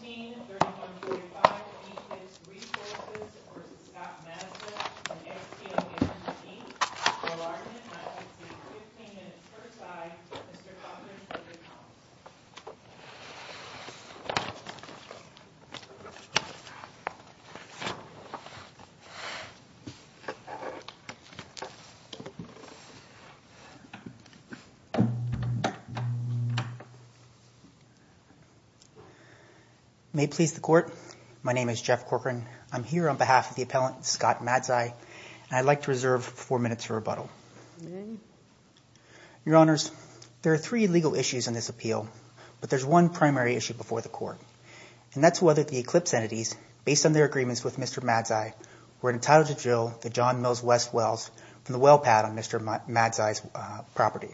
1731.5 Eclipse Resources v. Scott Madzia, XTL-NC, O-R-N-N-I-C, 15 minutes per side, Mr. Cochran, for your comments. May it please the Court. My name is Jeff Cochran. I'm here on behalf of the appellant, Scott Madzia, and I'd like to reserve four minutes for rebuttal. Your Honors, there are three legal issues in this appeal, but there's one primary issue before the Court, and that's whether the Eclipse entities, based on their agreements with Mr. Madzia, were entitled to drill the John Mills West wells from the well pad on Mr. Madzia's property.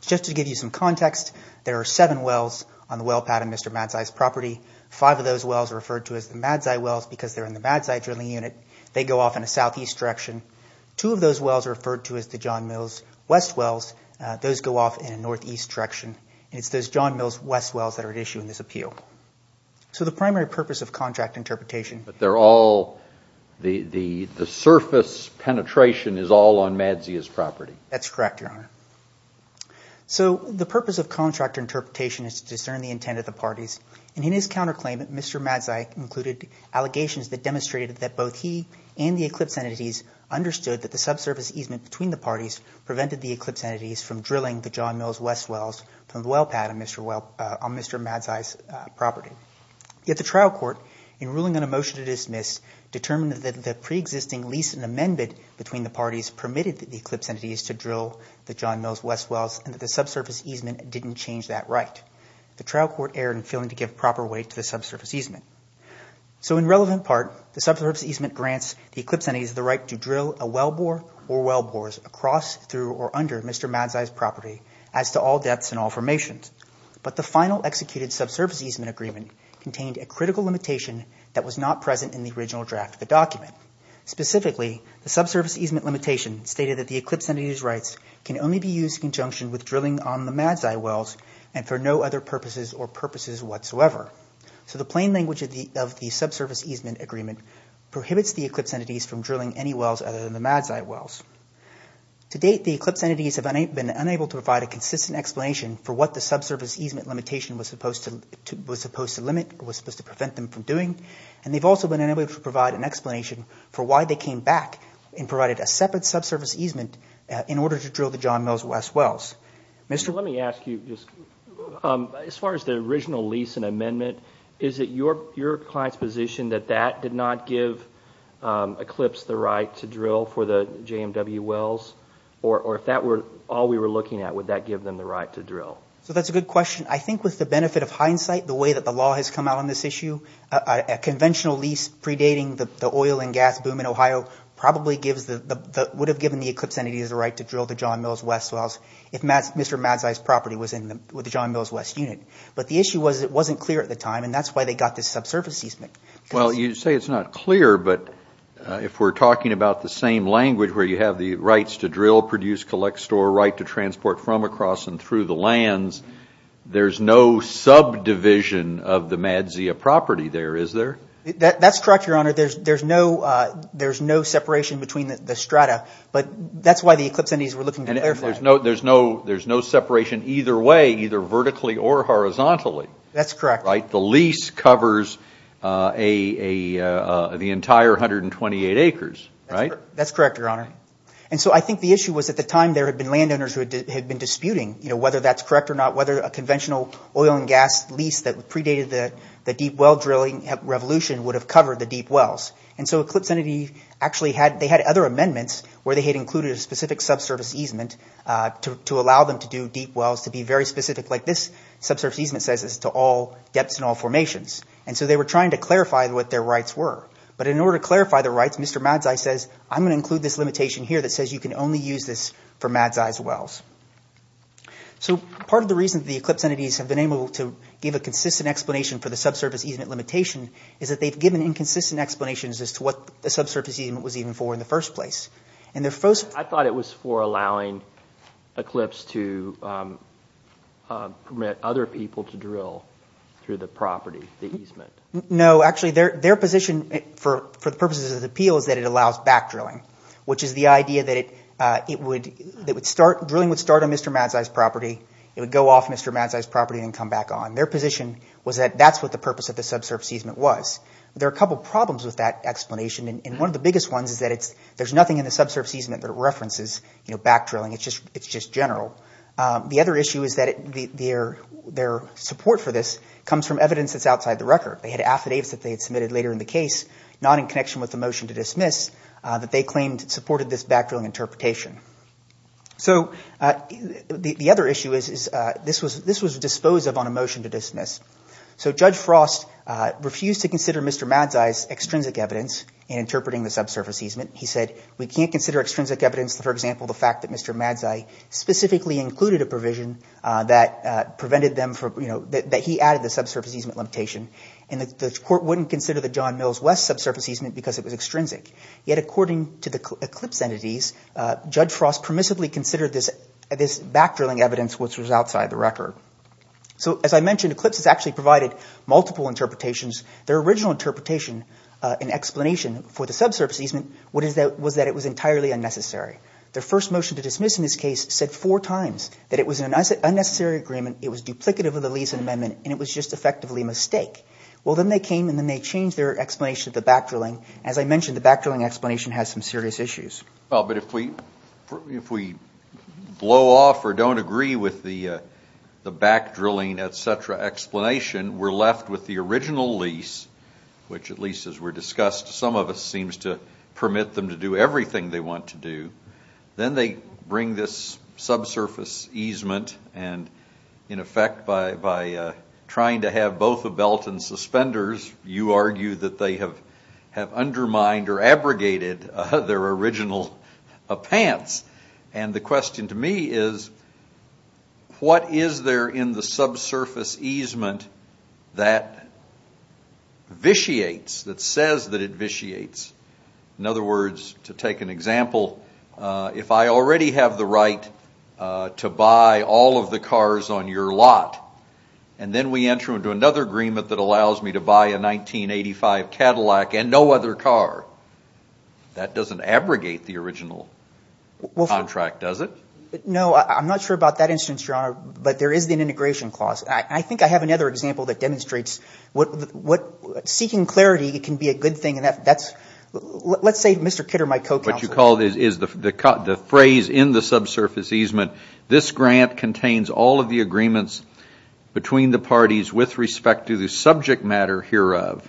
Just to give you some context, there are seven wells on the well pad on Mr. Madzia's property. Five of those wells are referred to as the Madzi wells because they're in the Madzi drilling unit. They go off in a southeast direction. Two of those wells are referred to as the John Mills West wells. Those go off in a northeast direction, and it's those John Mills West wells that are at issue in this appeal. So the primary purpose of contract interpretation… But they're all – the surface penetration is all on Madzia's property. That's correct, Your Honor. So the purpose of contract interpretation is to discern the intent of the parties, and in his counterclaim, Mr. Madzia included allegations that demonstrated that both he and the Eclipse entities understood that the subsurface easement between the parties prevented the Eclipse entities from drilling the John Mills West wells from the well pad on Mr. Madzia's property. Yet the trial court, in ruling on a motion to dismiss, determined that the preexisting lease and amendment between the parties permitted the Eclipse entities to drill the John Mills West wells and that the subsurface easement didn't change that right. The trial court erred in failing to give proper weight to the subsurface easement. So in relevant part, the subsurface easement grants the Eclipse entities the right to drill a well bore or well bores across, through, or under Mr. Madzia's property as to all depths and all formations. But the final executed subsurface easement agreement contained a critical limitation that was not present in the original draft of the document. Specifically, the subsurface easement limitation stated that the Eclipse entities' rights can only be used in conjunction with drilling on the Madzia wells and for no other purposes or purposes whatsoever. So the plain language of the subsurface easement agreement prohibits the Eclipse entities from drilling any wells other than the Madzia wells. To date, the Eclipse entities have been unable to provide a consistent explanation for what the subsurface easement limitation was supposed to limit or was supposed to prevent them from doing. And they've also been unable to provide an explanation for why they came back and provided a separate subsurface easement in order to drill the John Mills West wells. Mr. Let me ask you, as far as the original lease and amendment, is it your client's position that that did not give Eclipse the right to drill for the JMW wells? Or if that were all we were looking at, would that give them the right to drill? So that's a good question. I think with the benefit of hindsight, the way that the law has come out on this issue, a conventional lease predating the oil and gas boom in Ohio probably would have given the Eclipse entities the right to drill the John Mills West wells. If Mr. Madzia's property was in the John Mills West unit. But the issue was it wasn't clear at the time. And that's why they got this subsurface easement. Well, you say it's not clear. But if we're talking about the same language where you have the rights to drill, produce, collect, store, right to transport from across and through the lands, there's no subdivision of the Madzia property there, is there? That's correct, Your Honor. There's no separation between the strata. But that's why the Eclipse entities were looking to clarify. There's no separation either way, either vertically or horizontally. That's correct. The lease covers the entire 128 acres, right? That's correct, Your Honor. And so I think the issue was at the time there had been landowners who had been disputing whether that's correct or not, whether a conventional oil and gas lease that predated the deep well drilling revolution would have covered the deep wells. And so Eclipse entity actually had – they had other amendments where they had included a specific subsurface easement to allow them to do deep wells to be very specific, like this subsurface easement says it's to all depths and all formations. And so they were trying to clarify what their rights were. But in order to clarify the rights, Mr. Madzai says, I'm going to include this limitation here that says you can only use this for Madzai's wells. So part of the reason the Eclipse entities have been able to give a consistent explanation for the subsurface easement limitation is that they've given inconsistent explanations as to what the subsurface easement was even for in the first place. And their first – I thought it was for allowing Eclipse to permit other people to drill through the property, the easement. No. Well, actually, their position for the purposes of the appeal is that it allows back drilling, which is the idea that it would – drilling would start on Mr. Madzai's property. It would go off Mr. Madzai's property and come back on. Their position was that that's what the purpose of the subsurface easement was. There are a couple problems with that explanation, and one of the biggest ones is that it's – there's nothing in the subsurface easement that references back drilling. It's just general. The other issue is that their support for this comes from evidence that's outside the record. They had affidavits that they had submitted later in the case, not in connection with the motion to dismiss, that they claimed supported this back drilling interpretation. So the other issue is this was disposed of on a motion to dismiss. So Judge Frost refused to consider Mr. Madzai's extrinsic evidence in interpreting the subsurface easement. He said we can't consider extrinsic evidence, for example, the fact that Mr. Madzai specifically included a provision that prevented them from – that he added the subsurface easement limitation. And the court wouldn't consider the John Mills West subsurface easement because it was extrinsic. Yet according to the Eclipse entities, Judge Frost permissively considered this back drilling evidence, which was outside the record. So as I mentioned, Eclipse has actually provided multiple interpretations. Their original interpretation and explanation for the subsurface easement was that it was entirely unnecessary. Their first motion to dismiss in this case said four times that it was an unnecessary agreement, it was duplicative of the lease and amendment, and it was just effectively a mistake. Well, then they came and then they changed their explanation of the back drilling. As I mentioned, the back drilling explanation has some serious issues. Well, but if we blow off or don't agree with the back drilling, et cetera, explanation, we're left with the original lease, which at least as we discussed, some of us seems to permit them to do everything they want to do. Then they bring this subsurface easement and in effect by trying to have both a belt and suspenders, you argue that they have undermined or abrogated their original pants. The question to me is, what is there in the subsurface easement that vitiates, that says that it vitiates? In other words, to take an example, if I already have the right to buy all of the cars on your lot, and then we enter into another agreement that allows me to buy a 1985 Cadillac and no other car, that doesn't abrogate the original contract, does it? No, I'm not sure about that instance, Your Honor, but there is an integration clause. I think I have another example that demonstrates what seeking clarity can be a good thing. Let's say Mr. Kitter, my co-counsel. The phrase in the subsurface easement, this grant contains all of the agreements between the parties with respect to the subject matter hereof,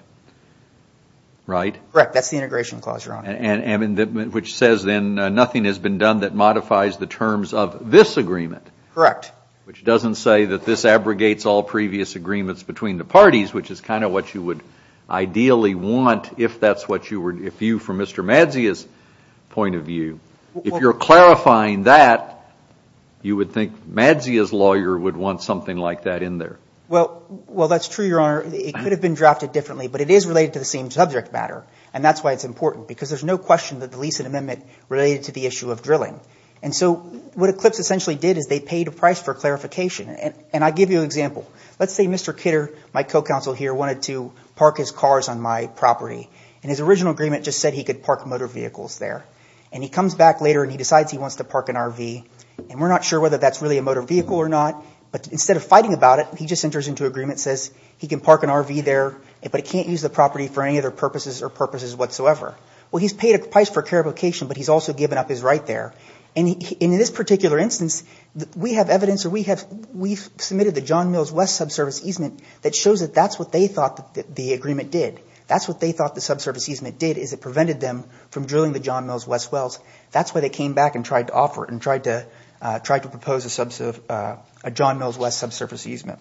right? Correct, that's the integration clause, Your Honor. Which says then nothing has been done that modifies the terms of this agreement. Correct. Which doesn't say that this abrogates all previous agreements between the parties, which is kind of what you would ideally want if that's what you were, if you, from Mr. Madzia's point of view, if you're clarifying that, you would think Madzia's lawyer would want something like that in there. Well, that's true, Your Honor. It could have been drafted differently, but it is related to the same subject matter, and that's why it's important, because there's no question that the lease and amendment related to the issue of drilling. And so what Eclipse essentially did is they paid a price for clarification, and I'll give you an example. Let's say Mr. Kidder, my co-counsel here, wanted to park his cars on my property, and his original agreement just said he could park motor vehicles there, and he comes back later and he decides he wants to park an RV, and we're not sure whether that's really a motor vehicle or not, but instead of fighting about it, he just enters into agreement and says he can park an RV there, but he can't use the property for any other purposes or purposes whatsoever. Well, he's paid a price for clarification, but he's also given up his right there. And in this particular instance, we have evidence or we have submitted the John Mills West subsurface easement that shows that that's what they thought the agreement did. That's what they thought the subsurface easement did is it prevented them from drilling the John Mills West wells. That's why they came back and tried to offer it and tried to propose a John Mills West subsurface easement.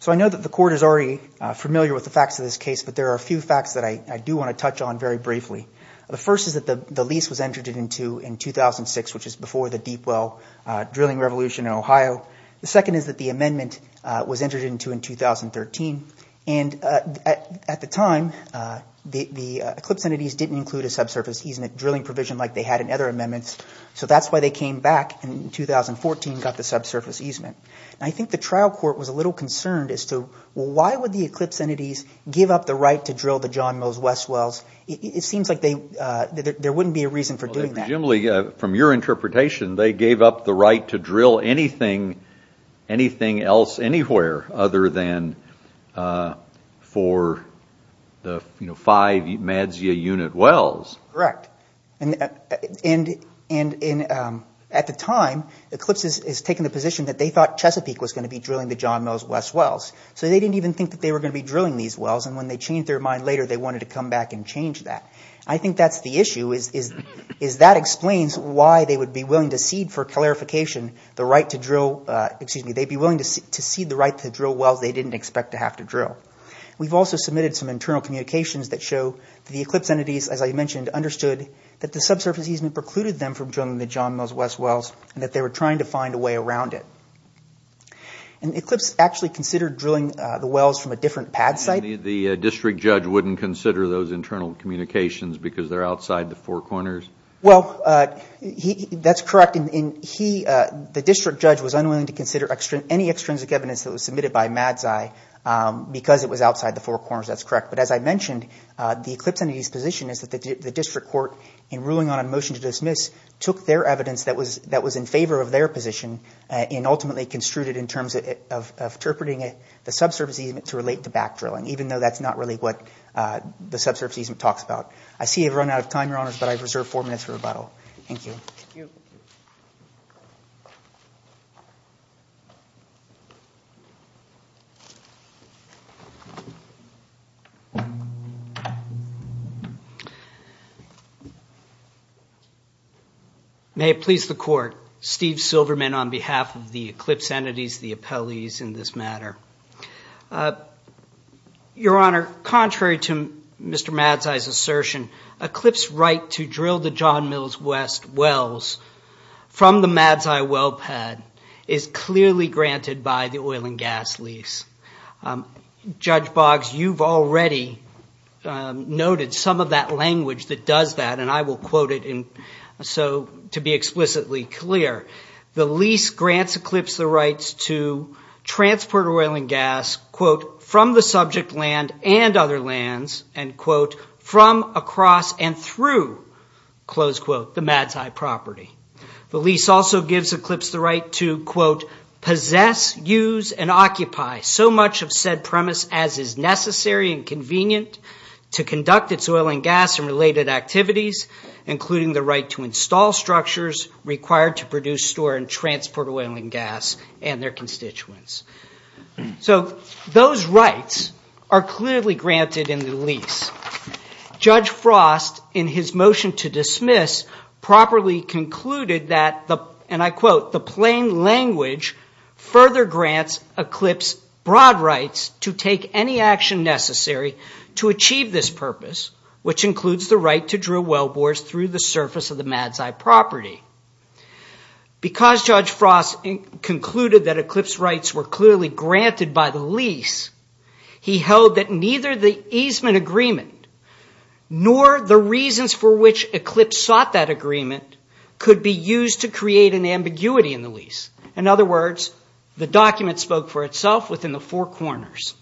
So I know that the Court is already familiar with the facts of this case, but there are a few facts that I do want to touch on very briefly. The first is that the lease was entered into in 2006, which is before the deep well drilling revolution in Ohio. The second is that the amendment was entered into in 2013. And at the time, the Eclipse entities didn't include a subsurface easement drilling provision like they had in other amendments, so that's why they came back in 2014 and got the subsurface easement. And I think the trial court was a little concerned as to, well, why would the Eclipse entities give up the right to drill the John Mills West wells? It seems like there wouldn't be a reason for doing that. Well, Jim Lee, from your interpretation, they gave up the right to drill anything else anywhere other than for the five MADSIA unit wells. Correct. And at the time, Eclipse has taken the position that they thought Chesapeake was going to be drilling the John Mills West wells, so they didn't even think that they were going to be drilling these wells, and when they changed their mind later, they wanted to come back and change that. I think that's the issue, is that explains why they would be willing to cede for clarification the right to drill – excuse me, they'd be willing to cede the right to drill wells they didn't expect to have to drill. We've also submitted some internal communications that show the Eclipse entities, as I mentioned, understood that the subsurface easement precluded them from drilling the John Mills West wells and that they were trying to find a way around it. And Eclipse actually considered drilling the wells from a different pad site? The district judge wouldn't consider those internal communications because they're outside the four corners? Well, that's correct. The district judge was unwilling to consider any extrinsic evidence that was submitted by MADSIA because it was outside the four corners, that's correct. But as I mentioned, the Eclipse entity's position is that the district court, in ruling on a motion to dismiss, took their evidence that was in favor of their position and ultimately construed it in terms of interpreting the subsurface easement to relate to back drilling, even though that's not really what the subsurface easement talks about. I see I've run out of time, Your Honors, but I reserve four minutes for rebuttal. Thank you. May it please the Court. Steve Silverman on behalf of the Eclipse entities, the appellees in this matter. Your Honor, contrary to Mr. Madsai's assertion, Eclipse's right to drill the John Mills West wells from the MADSIA well pad is clearly granted by the oil and gas lease. Judge Boggs, you've already noted some of that language that does that, and I will quote it to be explicitly clear. The lease grants Eclipse the rights to transport oil and gas, quote, from the subject land and other lands, and quote, from, across, and through, close quote, the MADSIA property. The lease also gives Eclipse the right to, quote, possess, use, and occupy so much of said premise as is necessary and convenient to conduct its oil and gas and related activities, including the right to install structures required to produce, store, and transport oil and gas and their constituents. So those rights are clearly granted in the lease. Judge Frost, in his motion to dismiss, properly concluded that, and I quote, the plain language further grants Eclipse broad rights to take any action necessary to achieve this purpose, which includes the right to drill well bores through the surface of the MADSIA property. Because Judge Frost concluded that Eclipse's rights were clearly granted by the lease, he held that neither the easement agreement nor the reasons for which Eclipse sought that agreement could be used to create an ambiguity in the lease. In other words, the document spoke for itself within the four corners.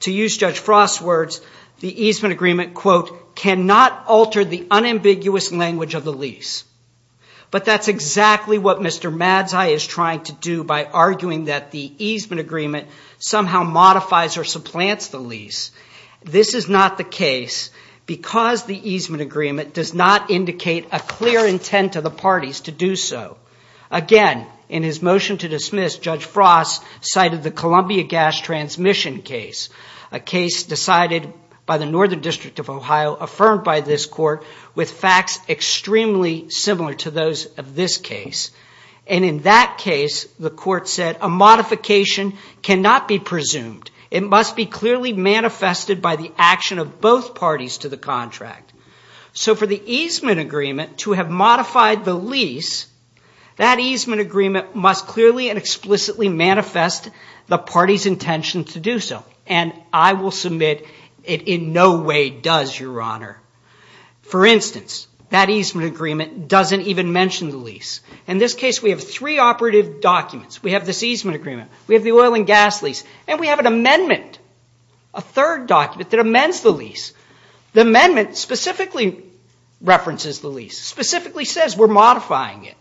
To use Judge Frost's words, the easement agreement, quote, cannot alter the unambiguous language of the lease. But that's exactly what Mr. MADSIA is trying to do by arguing that the easement agreement somehow modifies or supplants the lease. This is not the case because the easement agreement does not indicate a clear intent of the parties to do so. Again, in his motion to dismiss, Judge Frost cited the Columbia gas transmission case, a case decided by the Northern District of Ohio, affirmed by this court, with facts extremely similar to those of this case. And in that case, the court said, a modification cannot be presumed. It must be clearly manifested by the action of both parties to the contract. So for the easement agreement to have modified the lease, that easement agreement must clearly and explicitly manifest the party's intention to do so. And I will submit it in no way does, Your Honor. For instance, that easement agreement doesn't even mention the lease. In this case, we have three operative documents. We have this easement agreement. We have the oil and gas lease. And we have an amendment, a third document, that amends the lease. The amendment specifically references the lease, specifically says we're modifying it.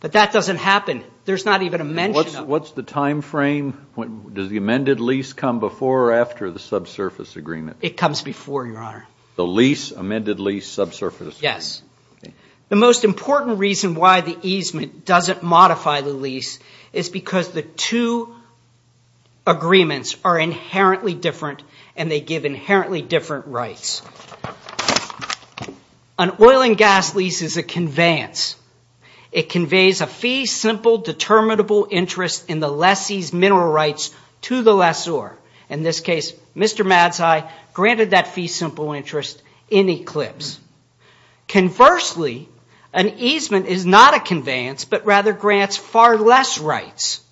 But that doesn't happen. There's not even a mention of it. What's the time frame? Does the amended lease come before or after the subsurface agreement? It comes before, Your Honor. The lease, amended lease, subsurface agreement. Yes. The most important reason why the easement doesn't modify the lease is because the two agreements are inherently different and they give inherently different rights. An oil and gas lease is a conveyance. It conveys a fee-simple, determinable interest in the lessee's mineral rights to the lessor. In this case, Mr. Madseye granted that fee-simple interest in Eclipse. Conversely, an easement is not a conveyance but rather grants far less rights.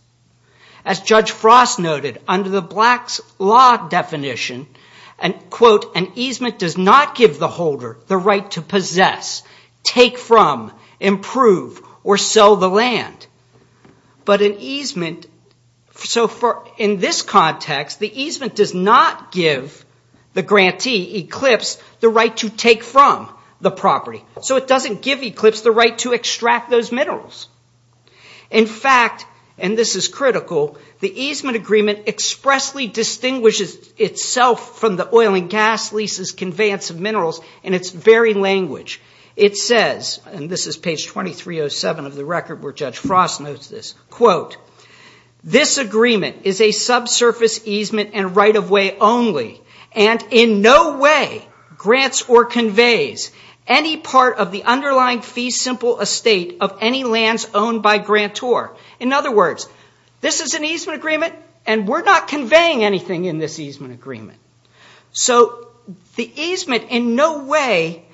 As Judge Frost noted, under the Black's Law definition, and, quote, an easement does not give the holder the right to possess, take from, improve, or sell the land. But an easement, in this context, the easement does not give the grantee, Eclipse, the right to take from the property. So it doesn't give Eclipse the right to extract those minerals. In fact, and this is critical, the easement agreement expressly distinguishes itself from the oil and gas lease's conveyance of minerals in its very language. It says, and this is page 2307 of the record where Judge Frost notes this, quote, this agreement is a subsurface easement and right-of-way only and in no way grants or conveys any part of the underlying fee-simple estate of any lands owned by grantor. In other words, this is an easement agreement and we're not conveying anything in this easement agreement. So the easement in no way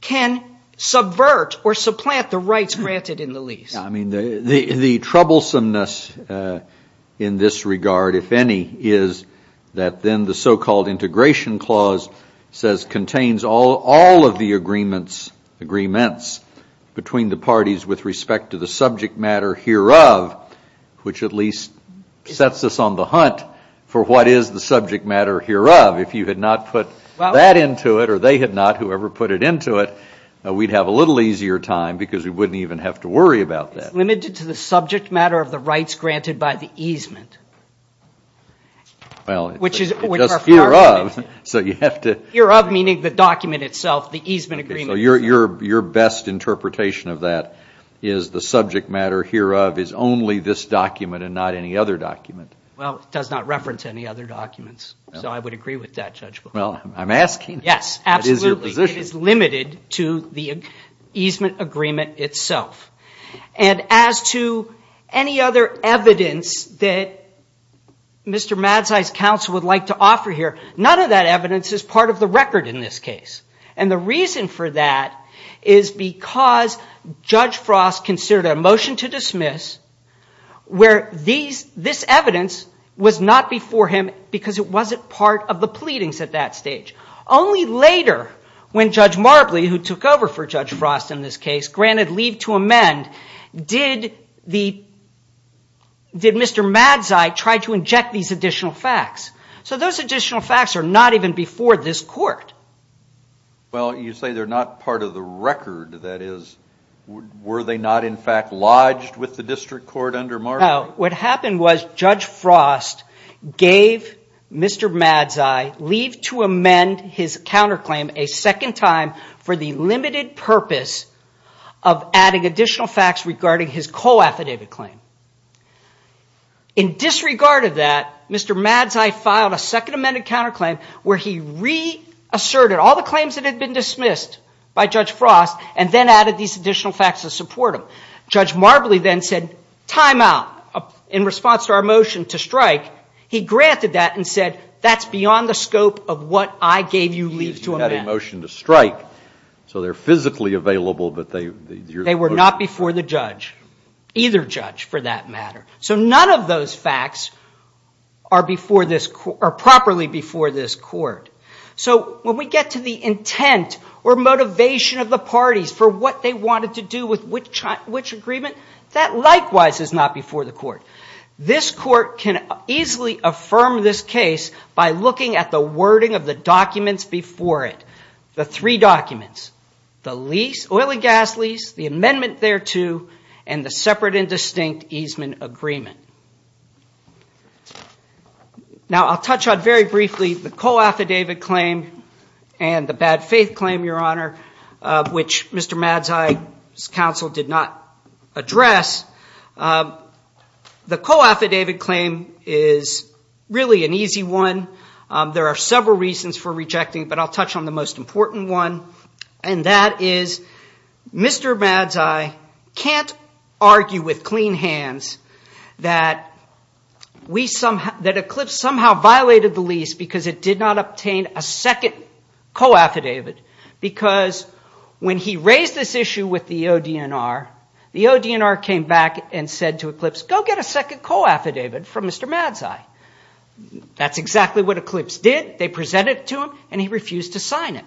can subvert or supplant the rights granted in the lease. Yeah, I mean, the troublesomeness in this regard, if any, is that then the so-called integration clause says contains all of the agreements between the parties with respect to the subject matter hereof, which at least sets us on the hunt for what is the subject matter hereof. If you had not put that into it or they had not, whoever put it into it, we'd have a little easier time because we wouldn't even have to worry about that. It's limited to the subject matter of the rights granted by the easement. Well, just hereof, so you have to... Hereof meaning the document itself, the easement agreement. So your best interpretation of that is the subject matter hereof is only this document and not any other document. Well, it does not reference any other documents, so I would agree with that, Judge. Well, I'm asking. Yes, absolutely. It is your position. It is limited to the easement agreement itself. And as to any other evidence that Mr. Madzai's counsel would like to offer here, none of that evidence is part of the record in this case. And the reason for that is because Judge Frost considered a motion to dismiss where this evidence was not before him because it wasn't part of the pleadings at that stage. Only later when Judge Marbley, who took over for Judge Frost in this case, granted leave to amend, did Mr. Madzai try to inject these additional facts. So those additional facts are not even before this court. Well, you say they're not part of the record. That is, were they not in fact lodged with the district court under Marbley? No. What happened was Judge Frost gave Mr. Madzai leave to amend his counterclaim a second time for the limited purpose of adding additional facts regarding his co-affidavit claim. In disregard of that, Mr. Madzai filed a second amended counterclaim where he reasserted all the claims that had been dismissed by Judge Frost and then added these additional facts to support him. Judge Marbley then said, time out, in response to our motion to strike. He granted that and said, that's beyond the scope of what I gave you leave to amend. You had a motion to strike, so they're physically available, but they were not before the judge. Either judge, for that matter. So none of those facts are properly before this court. So when we get to the intent or motivation of the parties for what they wanted to do with which agreement, that likewise is not before the court. This court can easily affirm this case by looking at the wording of the documents before it. The three documents, the lease, oily gas lease, the amendment thereto, and the separate and distinct easement agreement. Now I'll touch on very briefly the co-affidavit claim and the bad faith claim, Your Honor, which Mr. Madzai's counsel did not address. The co-affidavit claim is really an easy one. There are several reasons for rejecting, but I'll touch on the most important one, and that is Mr. Madzai can't argue with clean hands that Eclipse somehow violated the lease because it did not obtain a second co-affidavit. Because when he raised this issue with the ODNR, the ODNR came back and said to Eclipse, go get a second co-affidavit from Mr. Madzai. That's exactly what Eclipse did. They presented it to him, and he refused to sign it.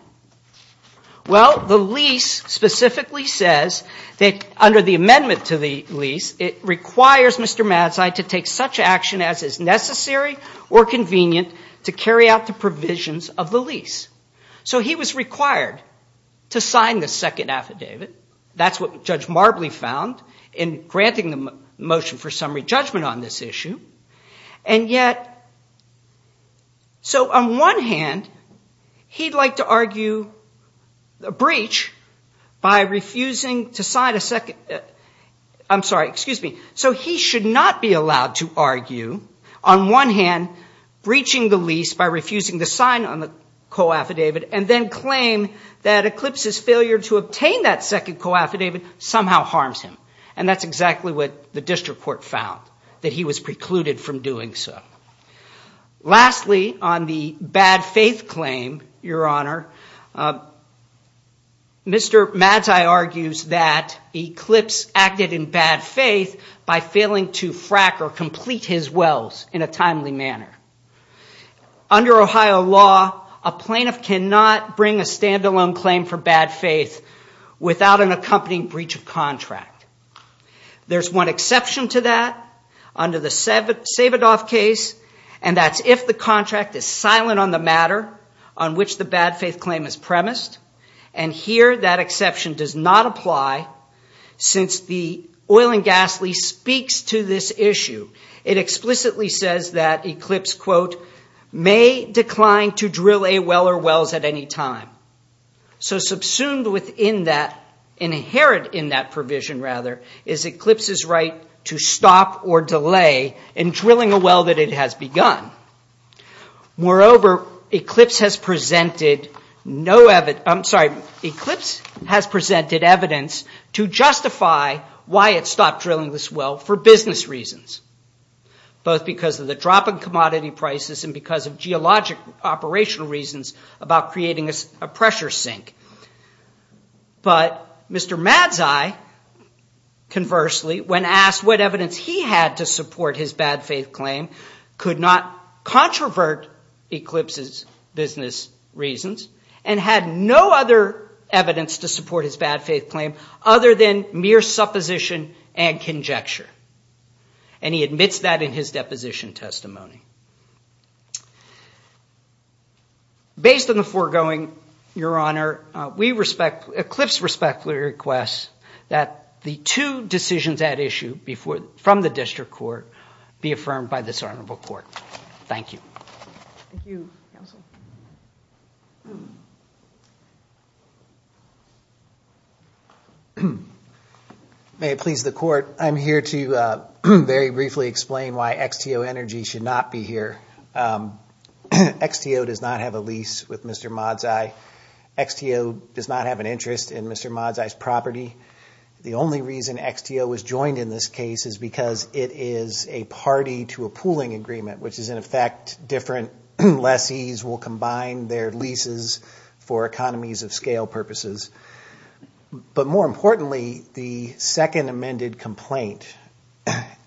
Well, the lease specifically says that under the amendment to the lease, it requires Mr. Madzai to take such action as is necessary or convenient to carry out the provisions of the lease. So he was required to sign the second affidavit. That's what Judge Marbley found in granting the motion for summary judgment on this issue. And yet, so on one hand, he'd like to argue a breach by refusing to sign a second co-affidavit. I'm sorry, excuse me. So he should not be allowed to argue, on one hand, breaching the lease by refusing to sign on the co-affidavit and then claim that Eclipse's failure to obtain that second co-affidavit somehow harms him. And that's exactly what the district court found, that he was precluded from doing so. Lastly, on the bad faith claim, Your Honor, Mr. Madzai argues that Eclipse acted in bad faith by failing to frack or complete his wells in a timely manner. Under Ohio law, a plaintiff cannot bring a standalone claim for bad faith without an accompanying breach of contract. There's one exception to that under the Savidoff case, and that's if the contract is silent on the matter on which the bad faith claim is premised. And here that exception does not apply since the oil and gas lease speaks to this issue. It explicitly says that Eclipse, quote, may decline to drill a well or wells at any time. So subsumed within that, inherent in that provision, rather, is Eclipse's right to stop or delay in drilling a well that it has begun. Moreover, Eclipse has presented no evidence, I'm sorry, Eclipse has presented evidence to justify why it stopped drilling this well for business reasons, both because of the drop in commodity prices and because of geologic operational reasons about creating a pressure sink. But Mr. Madzai, conversely, when asked what evidence he had to support his bad faith claim, could not controvert Eclipse's business reasons and had no other evidence to support his bad faith claim other than mere supposition and conjecture. And he admits that in his deposition testimony. Based on the foregoing, Your Honor, Eclipse respectfully requests that the two decisions at issue from the district court be affirmed by this honorable court. Thank you. Thank you, counsel. Thank you. May it please the court, I'm here to very briefly explain why XTO Energy should not be here. XTO does not have a lease with Mr. Madzai. XTO does not have an interest in Mr. Madzai's property. The only reason XTO was joined in this case is because it is a party to a pooling agreement, which is in effect different lessees will combine their leases for economies of scale purposes. But more importantly, the second amended complaint,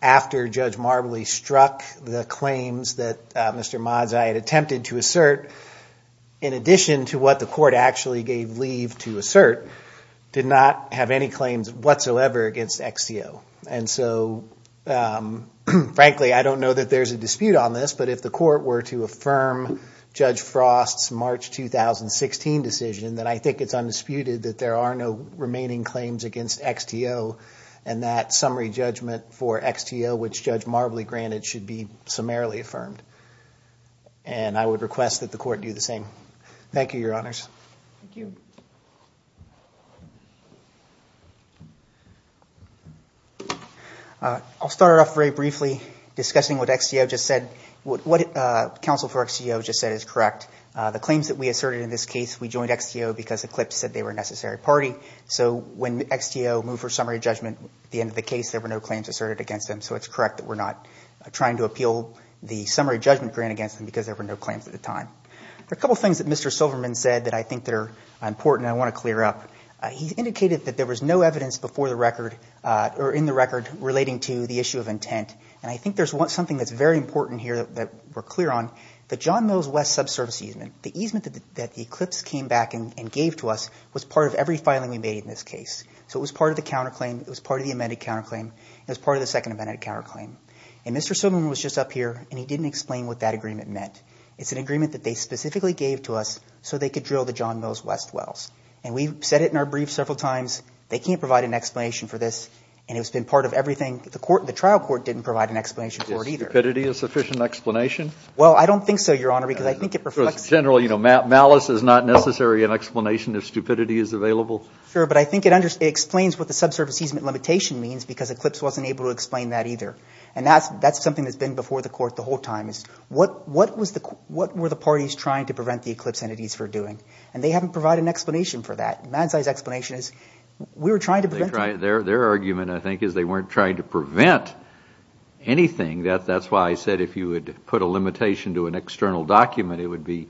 after Judge Marbley struck the claims that Mr. Madzai had attempted to assert, in addition to what the court actually gave leave to assert, did not have any claims whatsoever against XTO. And so, frankly, I don't know that there's a dispute on this, but if the court were to affirm Judge Frost's March 2016 decision, then I think it's undisputed that there are no remaining claims against XTO and that summary judgment for XTO, which Judge Marbley granted, should be summarily affirmed. And I would request that the court do the same. Thank you, Your Honors. Thank you. I'll start off very briefly discussing what XTO just said. What counsel for XTO just said is correct. The claims that we asserted in this case, we joined XTO because Eclipse said they were a necessary party. So when XTO moved for summary judgment at the end of the case, there were no claims asserted against them. So it's correct that we're not trying to appeal the summary judgment grant against them because there were no claims at the time. There are a couple of things that Mr. Silverman said that I think are important and I want to clear up. He indicated that there was no evidence before the record or in the record relating to the issue of intent. And I think there's something that's very important here that we're clear on, the John Mills West subservice easement. The easement that Eclipse came back and gave to us was part of every filing we made in this case. So it was part of the counterclaim. It was part of the amended counterclaim. It was part of the second amended counterclaim. And Mr. Silverman was just up here, and he didn't explain what that agreement meant. It's an agreement that they specifically gave to us so they could drill the John Mills West wells. And we've said it in our brief several times. They can't provide an explanation for this, and it's been part of everything. The trial court didn't provide an explanation for it either. Is stupidity a sufficient explanation? Well, I don't think so, Your Honor, because I think it reflects – Because generally malice is not necessary an explanation if stupidity is available. Sure, but I think it explains what the subservice easement limitation means because Eclipse wasn't able to explain that either. And that's something that's been before the court the whole time is what were the parties trying to prevent the Eclipse entities from doing? And they haven't provided an explanation for that. Manzai's explanation is we were trying to prevent it. Their argument, I think, is they weren't trying to prevent anything. That's why I said if you would put a limitation to an external document, it would be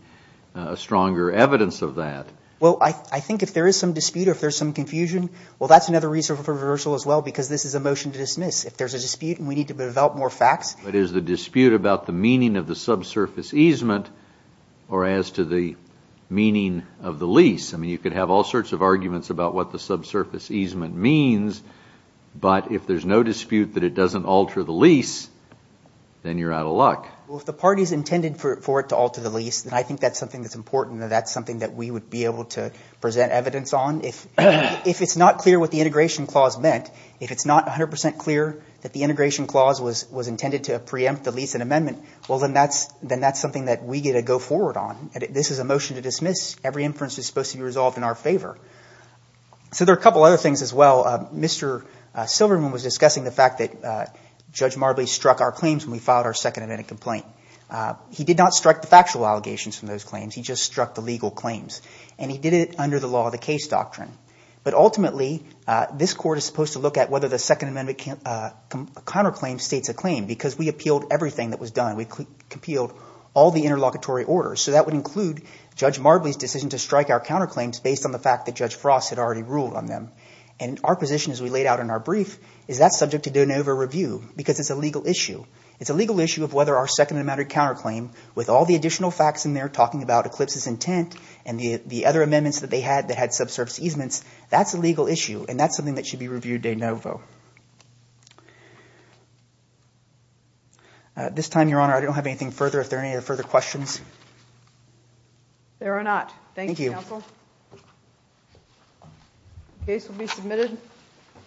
a stronger evidence of that. Well, I think if there is some dispute or if there's some confusion, well, that's another reason for reversal as well because this is a motion to dismiss. If there's a dispute and we need to develop more facts. But is the dispute about the meaning of the subsurface easement or as to the meaning of the lease? I mean you could have all sorts of arguments about what the subsurface easement means. But if there's no dispute that it doesn't alter the lease, then you're out of luck. Well, if the party's intended for it to alter the lease, then I think that's something that's important and that's something that we would be able to present evidence on. If it's not clear what the integration clause meant, if it's not 100 percent clear that the integration clause was intended to preempt the lease and amendment, well, then that's something that we get to go forward on. This is a motion to dismiss. Every inference is supposed to be resolved in our favor. So there are a couple other things as well. Mr. Silverman was discussing the fact that Judge Marbley struck our claims when we filed our second amendment complaint. He did not strike the factual allegations from those claims. He just struck the legal claims. And he did it under the law of the case doctrine. But ultimately, this court is supposed to look at whether the Second Amendment counterclaim states a claim because we appealed everything that was done. We appealed all the interlocutory orders. So that would include Judge Marbley's decision to strike our counterclaims based on the fact that Judge Frost had already ruled on them. And our position as we laid out in our brief is that's subject to de novo review because it's a legal issue. It's a legal issue of whether our Second Amendment counterclaim with all the additional facts in there talking about Eclipse's intent and the other amendments that they had that had subsurface easements, that's a legal issue. And that's something that should be reviewed de novo. At this time, Your Honor, I don't have anything further. Are there any further questions? There are not. Thank you, counsel. The case will be submitted.